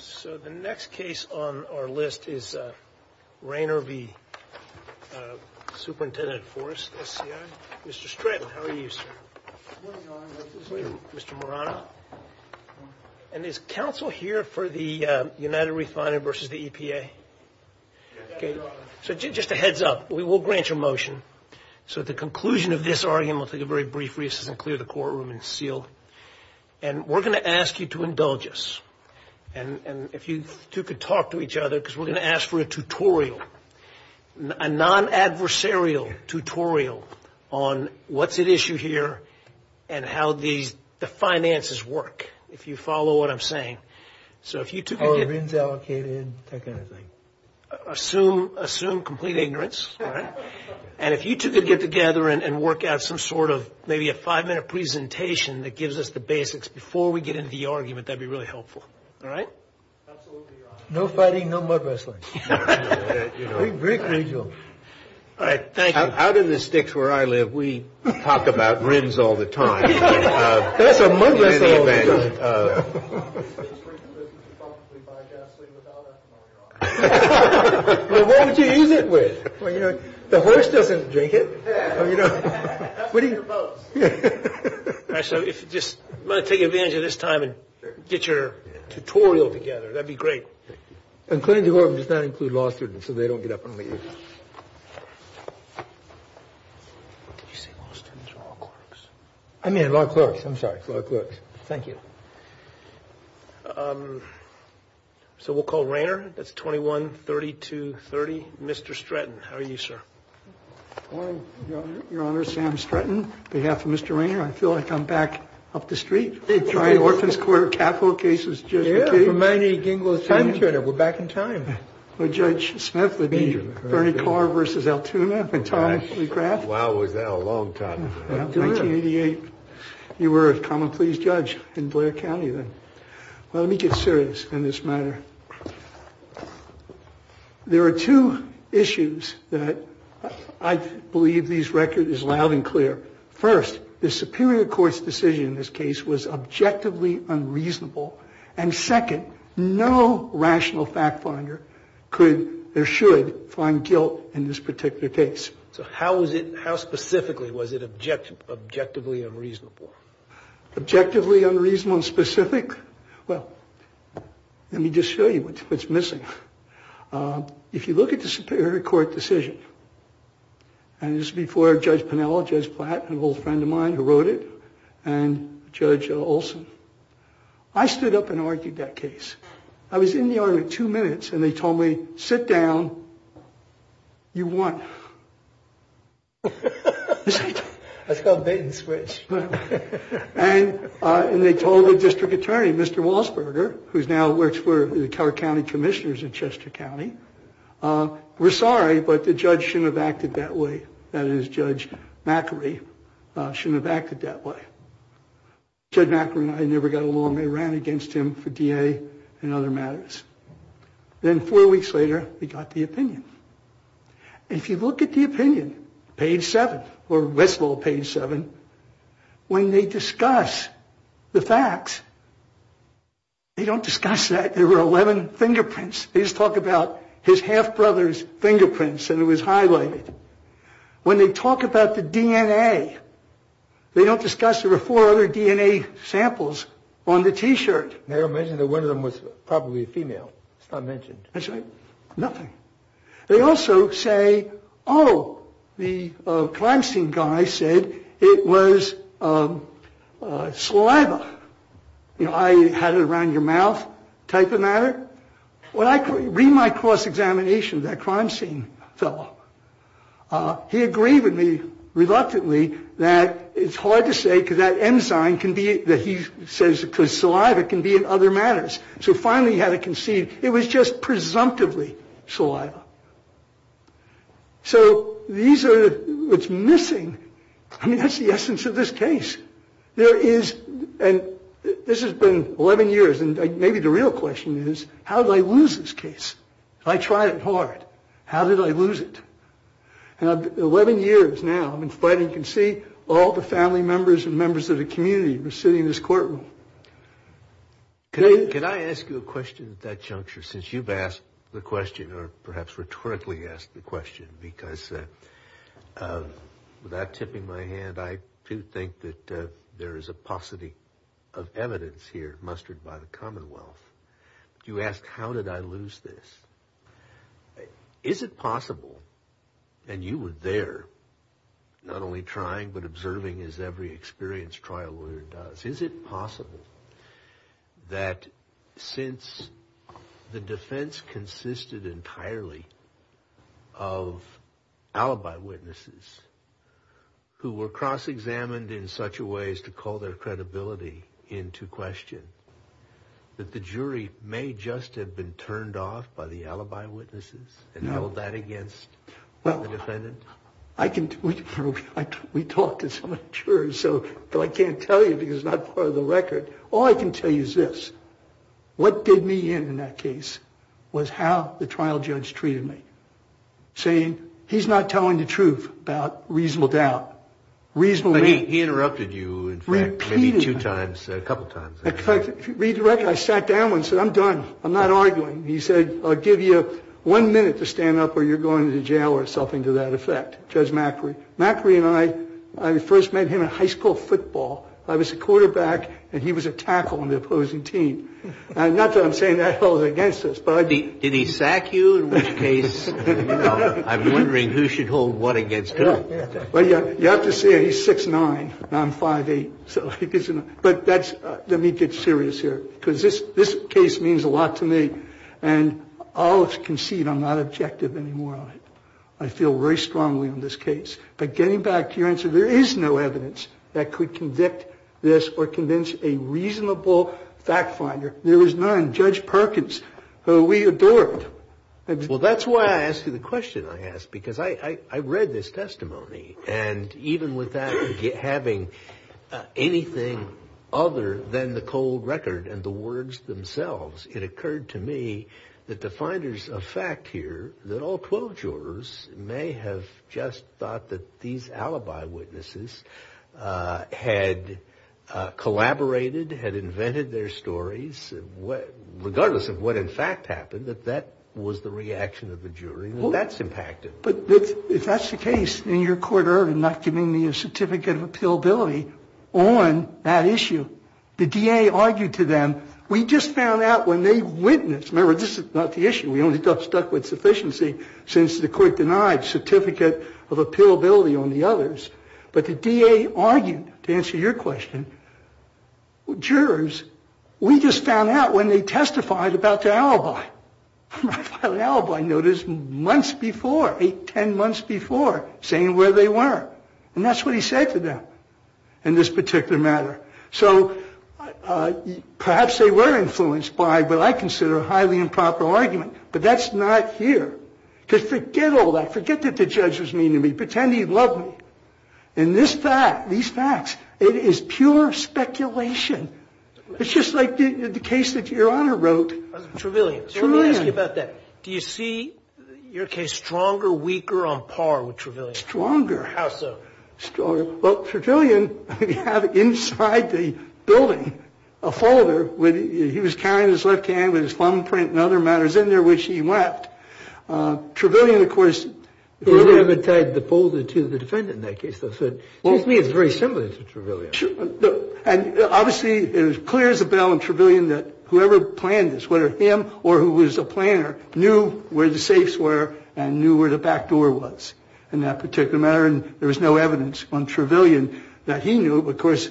So the next case on our list is Rayner v. Superintendent Forest SCI. Mr. Stratton, how are you, sir? Good morning, Your Honor. Mr. Morano. And is counsel here for the United Refinery versus the EPA? Yes, Your Honor. So just a heads up, we will grant your motion. So at the conclusion of this argument, we'll take a very brief recess and clear the courtroom and seal. And we're going to ask you to indulge us. And if you two could talk to each other, because we're going to ask for a tutorial, a non-adversarial tutorial on what's at issue here and how the finances work, if you follow what I'm saying. So if you two could get together. How are rings allocated and that kind of thing? Assume complete ignorance, all right? And if you two could get together and work out some sort of maybe a five-minute presentation that gives us the basics before we get into the argument, that would be really helpful. All right? Absolutely, Your Honor. No fighting, no mud-wrestling. Very crucial. All right. Thank you. Out of the sticks where I live, we talk about rims all the time. That's a mud-wrestling event. Well, what would you use it with? Well, you know, the horse doesn't drink it. Actually, if you just want to take advantage of this time and get your tutorial together, that'd be great. And Clinton Horton does not include law students, so they don't get up and leave. You say law students or law clerks? I mean law clerks. I'm sorry, law clerks. Thank you. So we'll call Rainer. That's 21-3230. Mr. Stratton, how are you, sir? Good morning, Your Honor. Sam Stratton, on behalf of Mr. Rainer. I feel like I'm back up the street. Tri-Orphan's Court of Capital Cases. Yeah. We're back in time. Judge Smith v. Bernie Carr v. Altoona and Tom McGrath. Wow, was that a long time. 1988. You were a common pleas judge in Blair County then. Well, let me get serious in this matter. There are two issues that I believe this record is loud and clear. First, the superior court's decision in this case was objectively unreasonable. And second, no rational fact finder could or should find guilt in this particular case. So how specifically was it objectively unreasonable? Objectively unreasonable and specific? Well, let me just show you what's missing. If you look at the superior court decision, and this is before Judge Pinello, Judge Platt, an old friend of mine who wrote it, and Judge Olson. I stood up and argued that case. I was in the argument two minutes, and they told me, sit down. You won. That's called bait and switch. And they told the district attorney, Mr. Walsberger, who now works for the County Commissioners in Chester County, we're sorry, but the judge shouldn't have acted that way. That is, Judge McAree shouldn't have acted that way. Judge McAree and I never got along. They ran against him for DA and other matters. Then four weeks later, we got the opinion. If you look at the opinion, page 7, or best of all, page 7, when they discuss the facts, they don't discuss that there were 11 fingerprints. They just talk about his half brother's fingerprints, and it was highlighted. When they talk about the DNA, they don't discuss there were four other DNA samples on the T-shirt. They mentioned that one of them was probably female. It's not mentioned. That's right. Nothing. They also say, oh, the crime scene guy said it was saliva. You know, I had it around your mouth type of matter. When I read my cross-examination, that crime scene fellow, he agreed with me reluctantly that it's hard to say because that enzyme can be that he says because saliva can be in other matters. So finally, he had to concede it was just presumptively saliva. So these are what's missing. I mean, that's the essence of this case. There is, and this has been 11 years, and maybe the real question is, how did I lose this case? I tried it hard. How did I lose it? And 11 years now, I've been fighting. You can see all the family members and members of the community were sitting in this courtroom. Can I ask you a question at that juncture, since you've asked the question, or perhaps rhetorically asked the question, because without tipping my hand, I do think that there is a paucity of evidence here mustered by the Commonwealth. You asked, how did I lose this? Is it possible, and you were there not only trying but observing, as every experienced trial lawyer does, is it possible that since the defense consisted entirely of alibi witnesses who were cross-examined in such a way as to call their credibility into question, that the jury may just have been turned off by the alibi witnesses and held that against the defendant? We talked to some of the jurors, but I can't tell you because it's not part of the record. All I can tell you is this. What did me in, in that case, was how the trial judge treated me, saying he's not telling the truth about reasonable doubt, reasonable doubt. But he interrupted you, in fact, maybe two times, a couple times. Repeatedly. In fact, if you read the record, I sat down and said, I'm done. I'm not arguing. He said, I'll give you one minute to stand up or you're going to jail or something to that effect. Judge Macri. Macri and I, I first met him at high school football. I was a quarterback and he was a tackle on the opposing team. Not that I'm saying that held against us. Did he sack you in which case? I'm wondering who should hold what against who. Well, you have to see, he's 6'9", and I'm 5'8". But that's, let me get serious here. Because this case means a lot to me. And I'll concede I'm not objective anymore on it. I feel very strongly on this case. But getting back to your answer, there is no evidence that could convict this or convince a reasonable fact finder. There is none. Judge Perkins, who we adored. Well, that's why I asked you the question I asked. Because I read this testimony. And even with that having anything other than the cold record and the words themselves, it occurred to me that the finders of fact here, that all 12 jurors, may have just thought that these alibi witnesses had collaborated, had invented their stories, regardless of what in fact happened, that that was the reaction of the jury. And that's impacted. But if that's the case, and your court erred in not giving me a certificate of appealability on that issue, the DA argued to them, we just found out when they witnessed. Remember, this is not the issue. We only got stuck with sufficiency since the court denied certificate of appealability on the others. But the DA argued, to answer your question, jurors, we just found out when they testified about the alibi. My final alibi notice months before, 8, 10 months before, saying where they were. And that's what he said to them in this particular matter. So perhaps they were influenced by what I consider a highly improper argument. But that's not here. Because forget all that. Forget that the judge was mean to me. Pretend he loved me. In this fact, these facts, it is pure speculation. It's just like the case that Your Honor wrote. Trevelyan. So let me ask you about that. Do you see your case stronger, weaker, on par with Trevelyan? Stronger. How so? Well, Trevelyan had inside the building a folder. He was carrying his left hand with his thumbprint and other matters in there, which he left. Trevelyan, of course. He never tied the folder to the defendant in that case, though. So to me, it's very similar to Trevelyan. And obviously, it was clear as a bell in Trevelyan that whoever planned this, whether him or who was the planner, knew where the safes were and knew where the back door was in that particular matter. And there was no evidence on Trevelyan that he knew. But of course,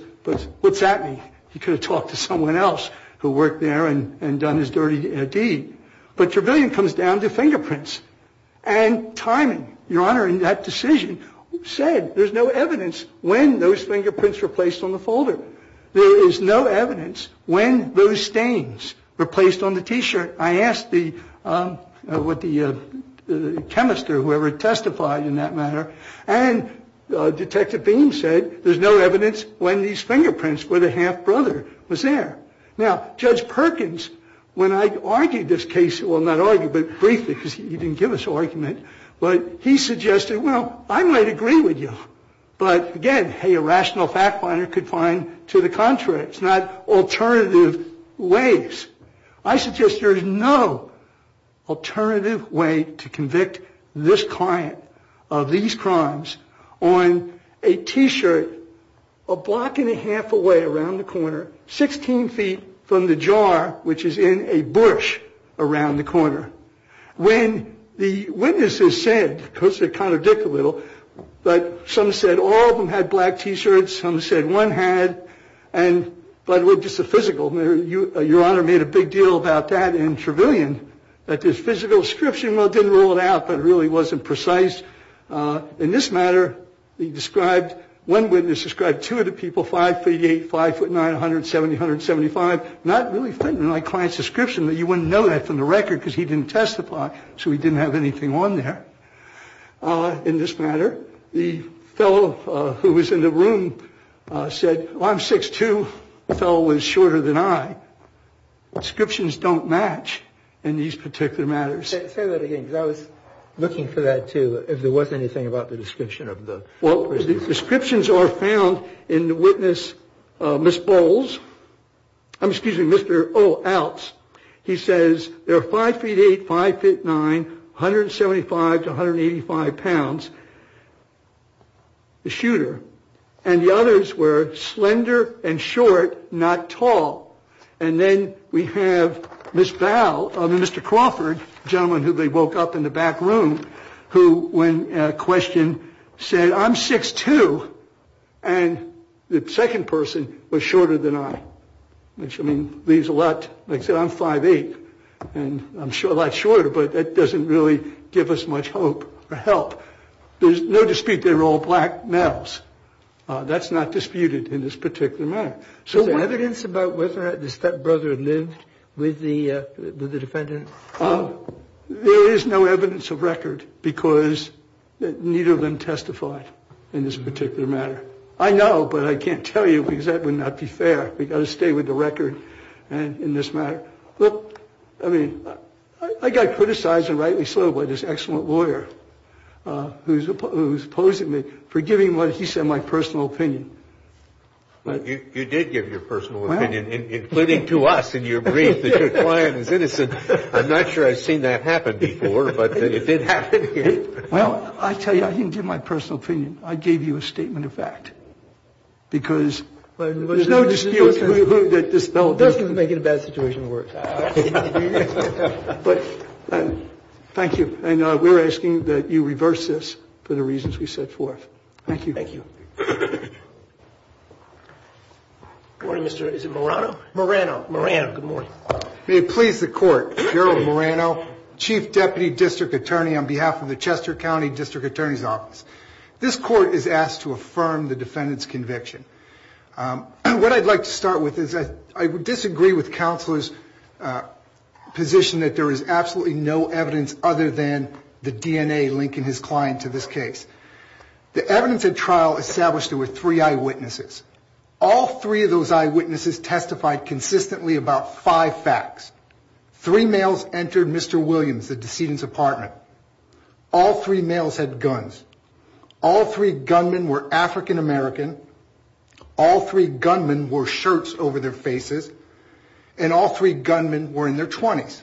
what's that mean? He could have talked to someone else who worked there and done his dirty deed. But Trevelyan comes down to fingerprints and timing. Your Honor, in that decision, said there's no evidence when those fingerprints were placed on the folder. There is no evidence when those stains were placed on the T-shirt. I asked the chemist or whoever testified in that matter, and Detective Beam said there's no evidence when these fingerprints, where the half-brother was there. Now, Judge Perkins, when I argued this case, well, not argued, but briefly, because he didn't give us argument, but he suggested, well, I might agree with you. But again, a rational fact finder could find to the contrary. It's not alternative ways. I suggest there is no alternative way to convict this client of these crimes on a T-shirt a block and a half away around the corner, 16 feet from the jar, which is in a bush around the corner. When the witnesses said, because they contradict a little, but some said all of them had black T-shirts. Some said one had. And by the way, just the physical. Your Honor made a big deal about that in Trevelyan, that this physical description, well, it didn't rule it out, but it really wasn't precise. In this matter, one witness described two of the people, 5'8", 5'9", 170, 175. Not really fitting in my client's description that you wouldn't know that from the record, because he didn't testify, so he didn't have anything on there. In this matter, the fellow who was in the room said, well, I'm 6'2". The fellow was shorter than I. Descriptions don't match in these particular matters. Say that again, because I was looking for that, too, if there was anything about the description of the prisoners. Well, the descriptions are found in the witness, Ms. Bowles. I'm excusing Mr. O. Outs. He says they're 5'8", 5'9", 175 to 185 pounds, the shooter. And the others were slender and short, not tall. And then we have Ms. Bowles, I mean, Mr. Crawford, the gentleman who they woke up in the back room, who, when questioned, said, I'm 6'2", and the second person was shorter than I, which, I mean, leaves a lot. Like I said, I'm 5'8", and I'm a lot shorter, but that doesn't really give us much hope or help. There's no dispute they were all black males. That's not disputed in this particular matter. Is there evidence about whether the stepbrother lived with the defendant? There is no evidence of record because neither of them testified in this particular matter. I know, but I can't tell you because that would not be fair. We've got to stay with the record in this matter. Look, I mean, I got criticized and rightly so by this excellent lawyer who's opposing me for giving what he said my personal opinion. Well, you did give your personal opinion, including to us in your brief that your client is innocent. I'm not sure I've seen that happen before, but it did happen here. Well, I tell you, I didn't give my personal opinion. I gave you a statement of fact because there's no dispute. It doesn't make it a bad situation to work. But thank you. And we're asking that you reverse this for the reasons we set forth. Thank you. Thank you. Thank you. Good morning, Mr. Is it Morano? Morano. Morano. Good morning. May it please the Court. Gerald Morano, Chief Deputy District Attorney on behalf of the Chester County District Attorney's Office. This Court is asked to affirm the defendant's conviction. What I'd like to start with is I disagree with Counselor's position that there is absolutely no evidence other than the DNA linking his client to this case. The evidence at trial established there were three eyewitnesses. All three of those eyewitnesses testified consistently about five facts. Three males entered Mr. Williams, the decedent's apartment. All three males had guns. All three gunmen were African American. All three gunmen wore shirts over their faces. And all three gunmen were in their 20s.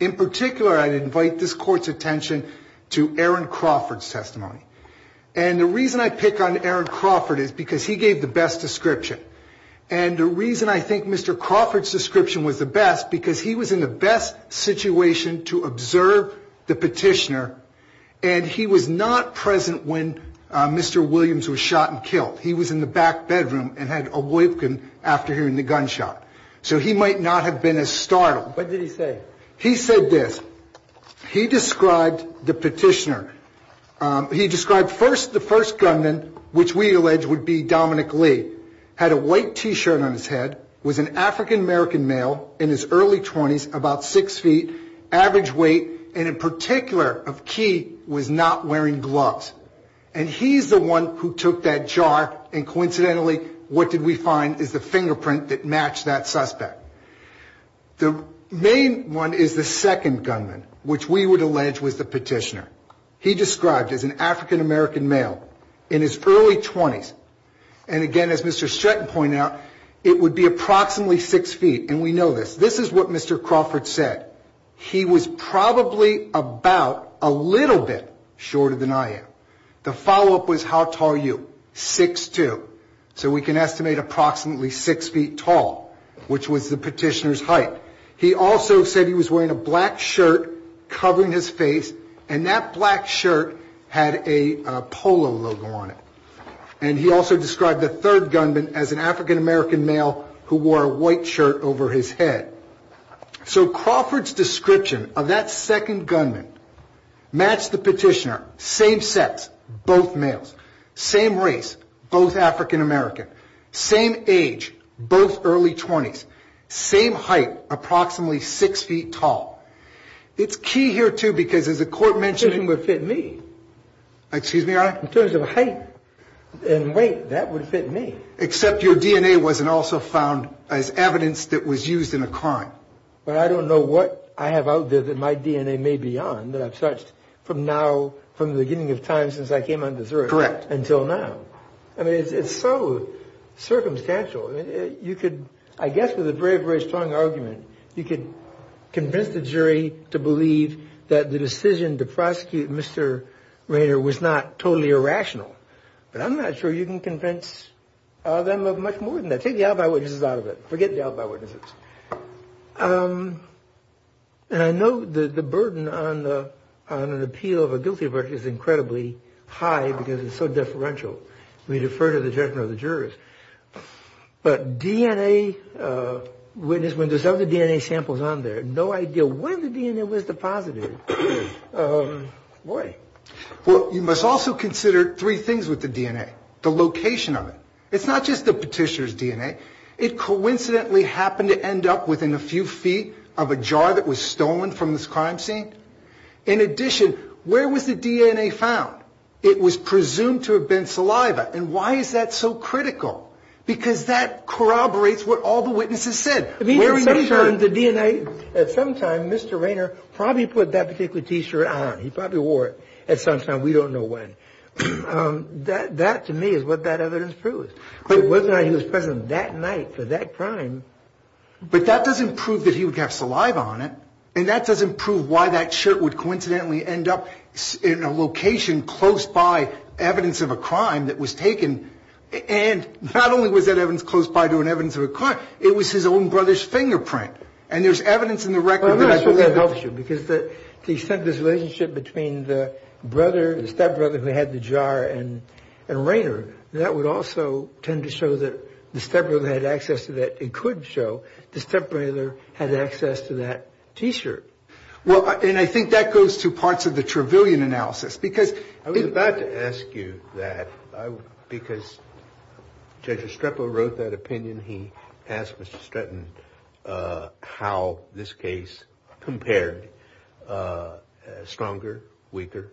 In particular, I'd invite this Court's attention to Aaron Crawford's testimony. And the reason I pick on Aaron Crawford is because he gave the best description. And the reason I think Mr. Crawford's description was the best, because he was in the best situation to observe the petitioner, and he was not present when Mr. Williams was shot and killed. He was in the back bedroom and had awoken after hearing the gunshot. So he might not have been as startled. What did he say? He said this. He described the petitioner. He described first the first gunman, which we allege would be Dominic Lee, had a white T-shirt on his head, was an African American male in his early 20s, about 6 feet, average weight, and in particular of key was not wearing gloves. And he's the one who took that jar. And coincidentally, what did we find is the fingerprint that matched that suspect. The main one is the second gunman, which we would allege was the petitioner. He described as an African American male in his early 20s. And again, as Mr. Stratton pointed out, it would be approximately 6 feet. And we know this. This is what Mr. Crawford said. He was probably about a little bit shorter than I am. The follow-up was, how tall are you? 6'2". So we can estimate approximately 6 feet tall, which was the petitioner's height. He also said he was wearing a black shirt covering his face, and that black shirt had a polo logo on it. And he also described the third gunman as an African American male who wore a white shirt over his head. So Crawford's description of that second gunman matched the petitioner. Same sex, both males. Same race, both African American. Same age, both early 20s. Same height, approximately 6 feet tall. It's key here, too, because as the court mentioned— In terms of height and weight, that would fit me. Except your DNA wasn't also found as evidence that was used in a crime. But I don't know what I have out there that my DNA may be on that I've searched from the beginning of time since I came on this earth until now. I mean, it's so circumstantial. I guess with a very, very strong argument, you could convince the jury to believe that the decision to prosecute Mr. Rainer was not totally irrational. But I'm not sure you can convince them of much more than that. Forget the alibi witnesses out of it. Forget the alibi witnesses. And I know the burden on an appeal of a guilty verdict is incredibly high because it's so deferential. We defer to the judgment of the jurors. But DNA, when there's other DNA samples on there, no idea when the DNA was deposited. Boy. Well, you must also consider three things with the DNA. The location of it. It's not just the petitioner's DNA. It coincidentally happened to end up within a few feet of a jar that was stolen from this crime scene. In addition, where was the DNA found? It was presumed to have been saliva. And why is that so critical? Because that corroborates what all the witnesses said. The DNA at some time, Mr. Rainer probably put that particular T-shirt on. He probably wore it at some time. We don't know when. That to me is what that evidence proves. It wasn't that he was present that night for that crime. But that doesn't prove that he would have saliva on it. And that doesn't prove why that shirt would coincidentally end up in a location close by evidence of a crime that was taken. And not only was that evidence close by to an evidence of a crime, it was his own brother's fingerprint. And there's evidence in the record. Well, I'm not sure that helps you. Because to the extent this relationship between the stepbrother who had the jar and Rainer, that would also tend to show that the stepbrother had access to that. It could show the stepbrother had access to that T-shirt. Well, and I think that goes to parts of the Trevelyan analysis. I was about to ask you that. Because Judge Estrepo wrote that opinion. He asked Mr. Stratton how this case compared. Stronger? Weaker?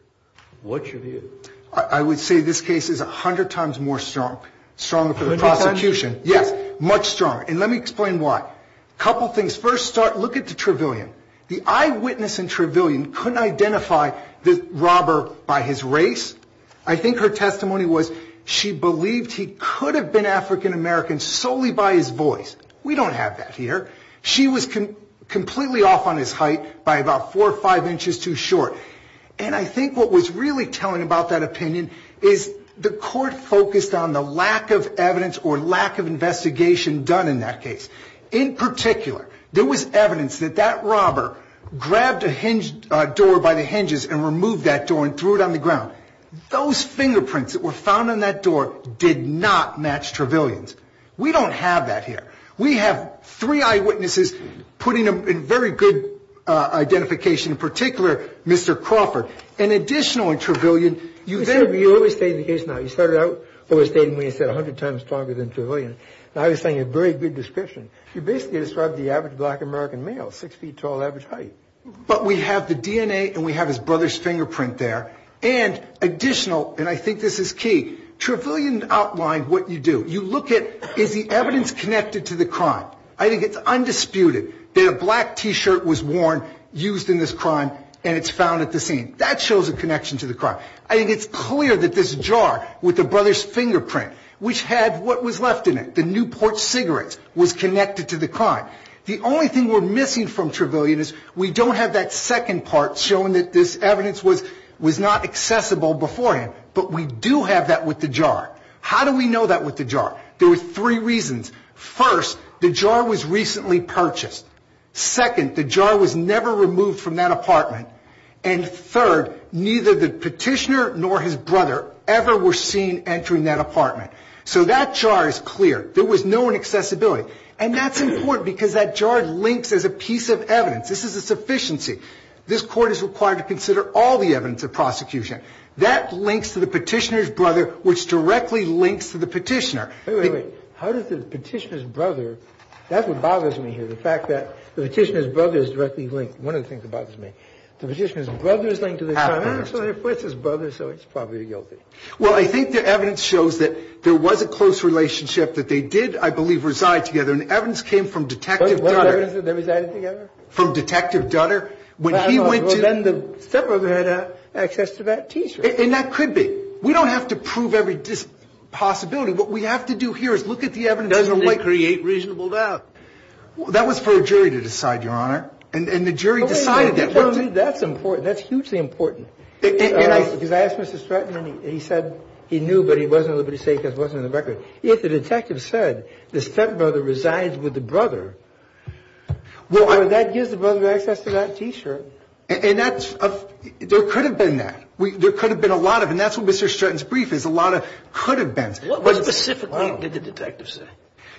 What's your view? I would say this case is 100 times more strong. Stronger for the prosecution. Yes. Much stronger. And let me explain why. A couple things. First, look at the Trevelyan. The eyewitness in Trevelyan couldn't identify the robber by his race. I think her testimony was she believed he could have been African-American solely by his voice. We don't have that here. She was completely off on his height by about four or five inches too short. And I think what was really telling about that opinion is the court focused on the lack of evidence or lack of investigation done in that case. In particular, there was evidence that that robber grabbed a door by the hinges and removed that door and threw it on the ground. Those fingerprints that were found on that door did not match Trevelyan's. We don't have that here. We have three eyewitnesses putting a very good identification, in particular Mr. Crawford, an additional in Trevelyan. You always state the case now. You started out always stating when you said 100 times stronger than Trevelyan. I was saying a very good description. You basically described the average black American male, six feet tall, average height. But we have the DNA and we have his brother's fingerprint there. And additional, and I think this is key, Trevelyan outlined what you do. You look at is the evidence connected to the crime. I think it's undisputed that a black T-shirt was worn, used in this crime, and it's found at the scene. That shows a connection to the crime. I think it's clear that this jar with the brother's fingerprint, which had what was left in it, the Newport cigarettes, was connected to the crime. The only thing we're missing from Trevelyan is we don't have that second part showing that this evidence was not accessible before him. But we do have that with the jar. How do we know that with the jar? There were three reasons. First, the jar was recently purchased. Second, the jar was never removed from that apartment. And third, neither the petitioner nor his brother ever were seen entering that apartment. So that jar is clear. There was no inaccessibility. And that's important because that jar links as a piece of evidence. This is a sufficiency. This Court is required to consider all the evidence of prosecution. That links to the petitioner's brother, which directly links to the petitioner. Wait, wait, wait. How does the petitioner's brother, that's what bothers me here, the fact that the petitioner's brother is directly linked. One of the things that bothers me. The petitioner's brother is linked to the crime. So if it's his brother, so he's probably guilty. Well, I think the evidence shows that there was a close relationship, that they did, I believe, reside together. And the evidence came from Detective Dutter. Was there evidence that they resided together? From Detective Dutter. Well, then the stepbrother had access to that teacher. And that could be. We don't have to prove every possibility. What we have to do here is look at the evidence. Doesn't it create reasonable doubt? That was for a jury to decide, Your Honor. And the jury decided that. That's important. That's hugely important. Because I asked Mr. Stratton, and he said he knew, but he wasn't able to say because it wasn't in the record. If the detective said the stepbrother resides with the brother, well, that gives the brother access to that teacher. And that's, there could have been that. There could have been a lot of, and that's what Mr. Stratton's brief is, a lot of could have been. What specifically did the detective say?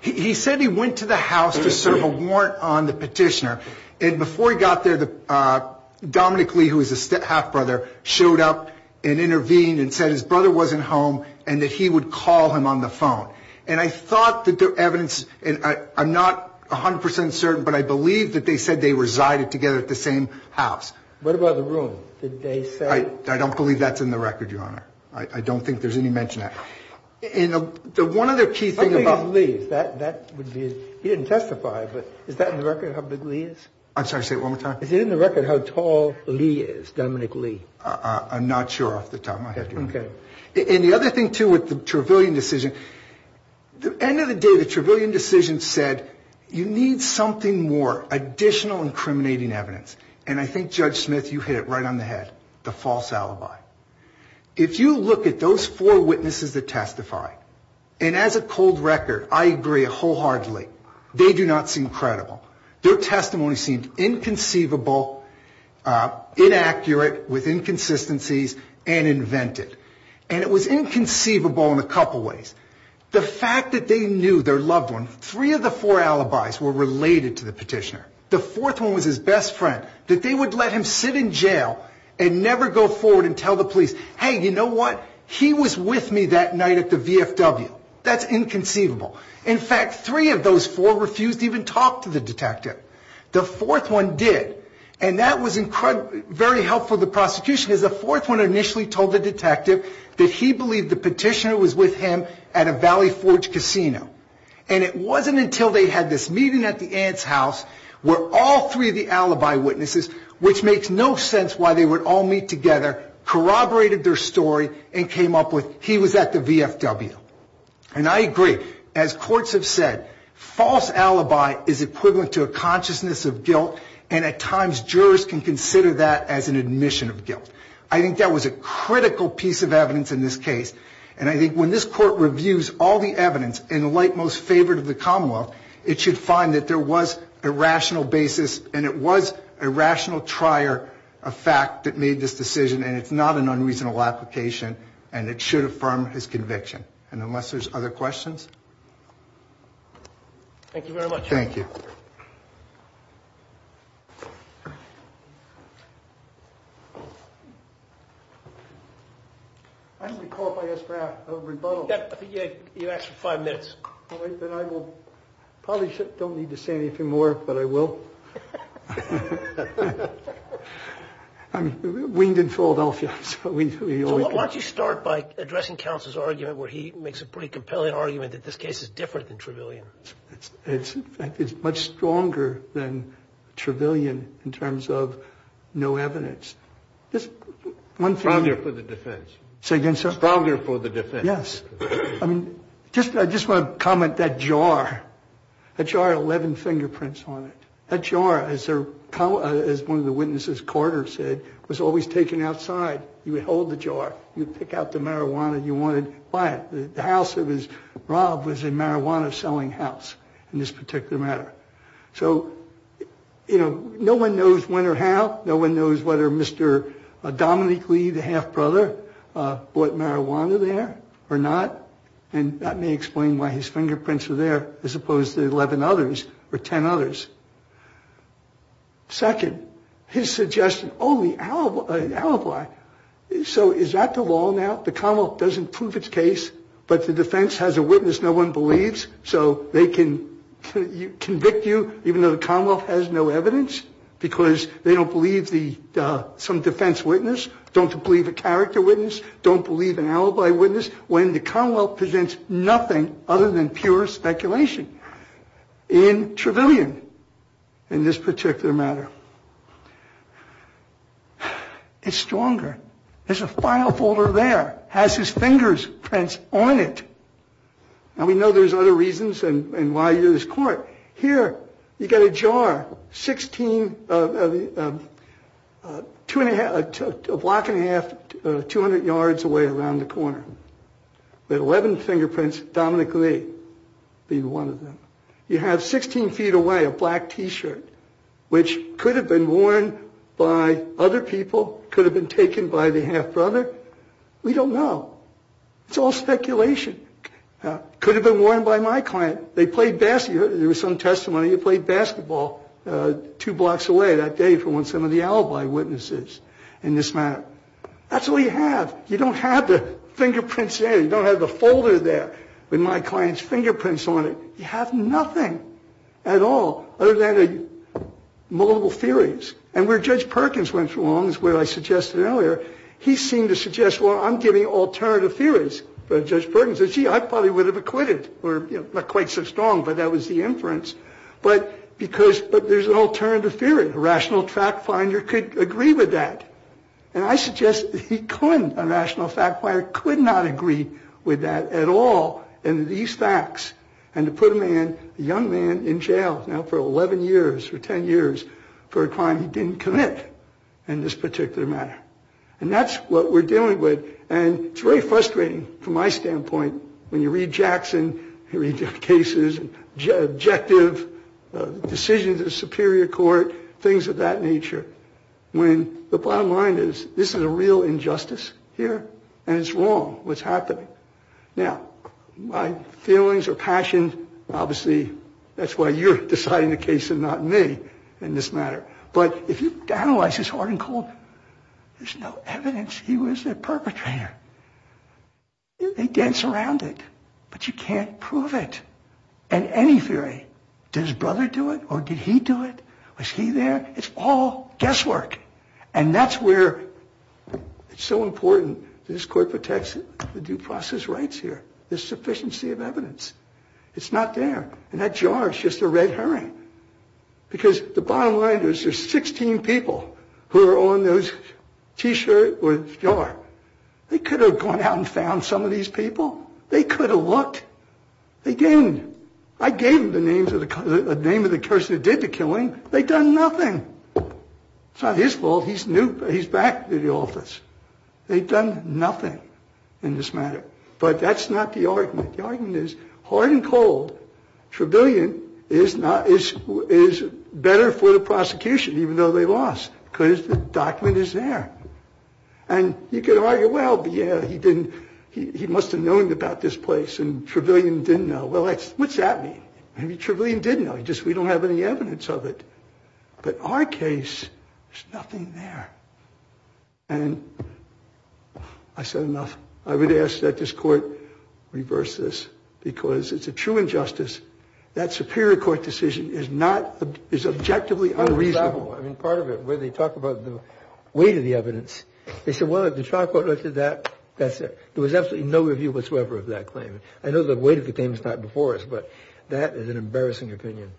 He said he went to the house to serve a warrant on the petitioner. And before he got there, Dominic Lee, who is the half-brother, showed up and intervened and said his brother wasn't home and that he would call him on the phone. And I thought that the evidence, and I'm not 100% certain, but I believe that they said they resided together at the same house. What about the room? Did they say? I don't believe that's in the record, Your Honor. I don't think there's any mention of that. And the one other key thing about. He didn't testify, but is that in the record how big Lee is? I'm sorry, say it one more time. Is it in the record how tall Lee is, Dominic Lee? I'm not sure off the top of my head. Okay. And the other thing, too, with the Trevelyan decision, the end of the day, the Trevelyan decision said you need something more, additional incriminating evidence. And I think, Judge Smith, you hit it right on the head, the false alibi. If you look at those four witnesses that testified, and as a cold record, I agree wholeheartedly, they do not seem credible. Their testimony seemed inconceivable, inaccurate, with inconsistencies, and invented. And it was inconceivable in a couple ways. The fact that they knew their loved one, three of the four alibis were related to the petitioner. The fourth one was his best friend, that they would let him sit in jail and never go forward and tell the police, hey, you know what? He was with me that night at the VFW. That's inconceivable. In fact, three of those four refused to even talk to the detective. The fourth one did. And that was very helpful to the prosecution, because the fourth one initially told the detective that he believed the petitioner was with him at a Valley Forge casino. And it wasn't until they had this meeting at the aunt's house where all three of the alibi witnesses, which makes no sense why they would all meet together, corroborated their story and came up with he was at the VFW. And I agree. As courts have said, false alibi is equivalent to a consciousness of guilt, and at times jurors can consider that as an admission of guilt. I think that was a critical piece of evidence in this case. And I think when this court reviews all the evidence in the light most favorite of the commonwealth, it should find that there was a rational basis, and it was a rational trier of fact that made this decision, and it's not an unreasonable application, and it should affirm his conviction. And unless there's other questions? Thank you very much. Thank you. Thank you. I think you have five minutes. I will probably don't need to say anything more, but I will. I'm winged in Philadelphia. Why don't you start by addressing counsel's argument where he makes a pretty compelling argument that this case is different than Trevelyan? It's much stronger than Trevelyan in terms of no evidence. Stronger for the defense. Say again, sir? Stronger for the defense. Yes. I mean, I just want to comment that jar. That jar had 11 fingerprints on it. That jar, as one of the witnesses quarter said, was always taken outside. You would hold the jar. You would pick out the marijuana you wanted, buy it. The house that was robbed was a marijuana-selling house in this particular matter. So, you know, no one knows when or how. No one knows whether Mr. Dominique Lee, the half-brother, bought marijuana there or not, and that may explain why his fingerprints are there as opposed to 11 others or 10 others. Second, his suggestion, only alibi. So is that the law now? The Commonwealth doesn't prove its case, but the defense has a witness no one believes, so they can convict you even though the Commonwealth has no evidence, because they don't believe some defense witness, don't believe a character witness, don't believe an alibi witness, when the Commonwealth presents nothing other than pure speculation. In Trevelyan, in this particular matter, it's stronger. There's a file folder there. It has his fingerprints on it. Now, we know there's other reasons and why you're in this court. Here, you've got a jar, a block and a half, 200 yards away around the corner with 11 fingerprints, Dominique Lee being one of them. You have 16 feet away a black T-shirt, which could have been worn by other people, could have been taken by the half-brother. We don't know. It's all speculation. Could have been worn by my client. And they played basketball. There was some testimony. You played basketball two blocks away that day from when some of the alibi witnesses in this matter. That's all you have. You don't have the fingerprints there. You don't have the folder there with my client's fingerprints on it. You have nothing at all other than the multiple theories. And where Judge Perkins went wrong is what I suggested earlier. He seemed to suggest, well, I'm giving alternative theories. But Judge Perkins said, gee, I probably would have acquitted. Not quite so strong, but that was the inference. But there's an alternative theory. A rational fact finder could agree with that. And I suggest he couldn't. A rational fact finder could not agree with that at all and these facts. And to put a young man in jail now for 11 years, for 10 years, for a crime he didn't commit in this particular matter. And that's what we're dealing with. And it's very frustrating from my standpoint when you read Jackson, you read the cases, objective decisions of the Superior Court, things of that nature, when the bottom line is this is a real injustice here and it's wrong what's happening. Now, my feelings or passion, obviously, that's why you're deciding the case and not me in this matter. But if you analyze this hard and cold, there's no evidence he was a perpetrator. They dance around it. But you can't prove it in any theory. Did his brother do it or did he do it? Was he there? It's all guesswork. And that's where it's so important that this court protects the due process rights here, the sufficiency of evidence. It's not there. And that jar is just a red herring. Because the bottom line is there's 16 people who are on those t-shirt with jar. They could have gone out and found some of these people. They could have looked. They didn't. I gave them the names of the person who did the killing. They've done nothing. It's not his fault. He's new. He's back to the office. They've done nothing in this matter. But that's not the argument. The argument is, hard and cold, Trevelyan is better for the prosecution, even though they lost, because the document is there. And you could argue, well, yeah, he must have known about this place, and Trevelyan didn't know. Well, what's that mean? Maybe Trevelyan did know. It's just we don't have any evidence of it. But our case, there's nothing there. And I said enough. I would ask that this Court reverse this, because it's a true injustice. That Superior Court decision is objectively unreasonable. I mean, part of it, where they talk about the weight of the evidence, they said, well, if the trial court looked at that, there was absolutely no review whatsoever of that claim. I know the weight of the claim is not before us, but that is an embarrassing opinion.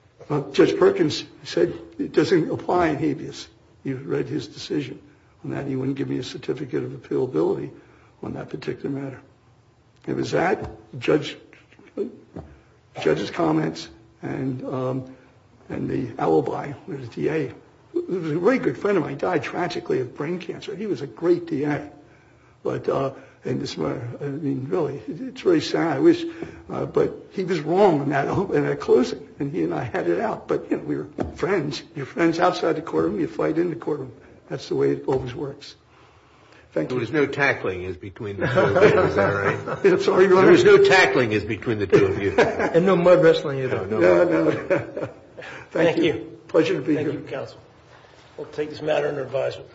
Judge Perkins said it doesn't apply in habeas. He read his decision on that. He wouldn't give me a certificate of appealability on that particular matter. It was that, the judge's comments, and the alibi, the DA. He was a very good friend of mine. He died tragically of brain cancer. He was a great DA. But in this matter, I mean, really, it's very sad. But he was wrong in that closing, and he and I had it out. But we were friends. You're friends outside the courtroom. You fight in the courtroom. That's the way it always works. Thank you. There was no tackling between the two of you, is that right? There was no tackling between the two of you. And no mud wrestling either. No, no. Thank you. Pleasure to be here. Thank you, counsel. We'll take this matter under advisement.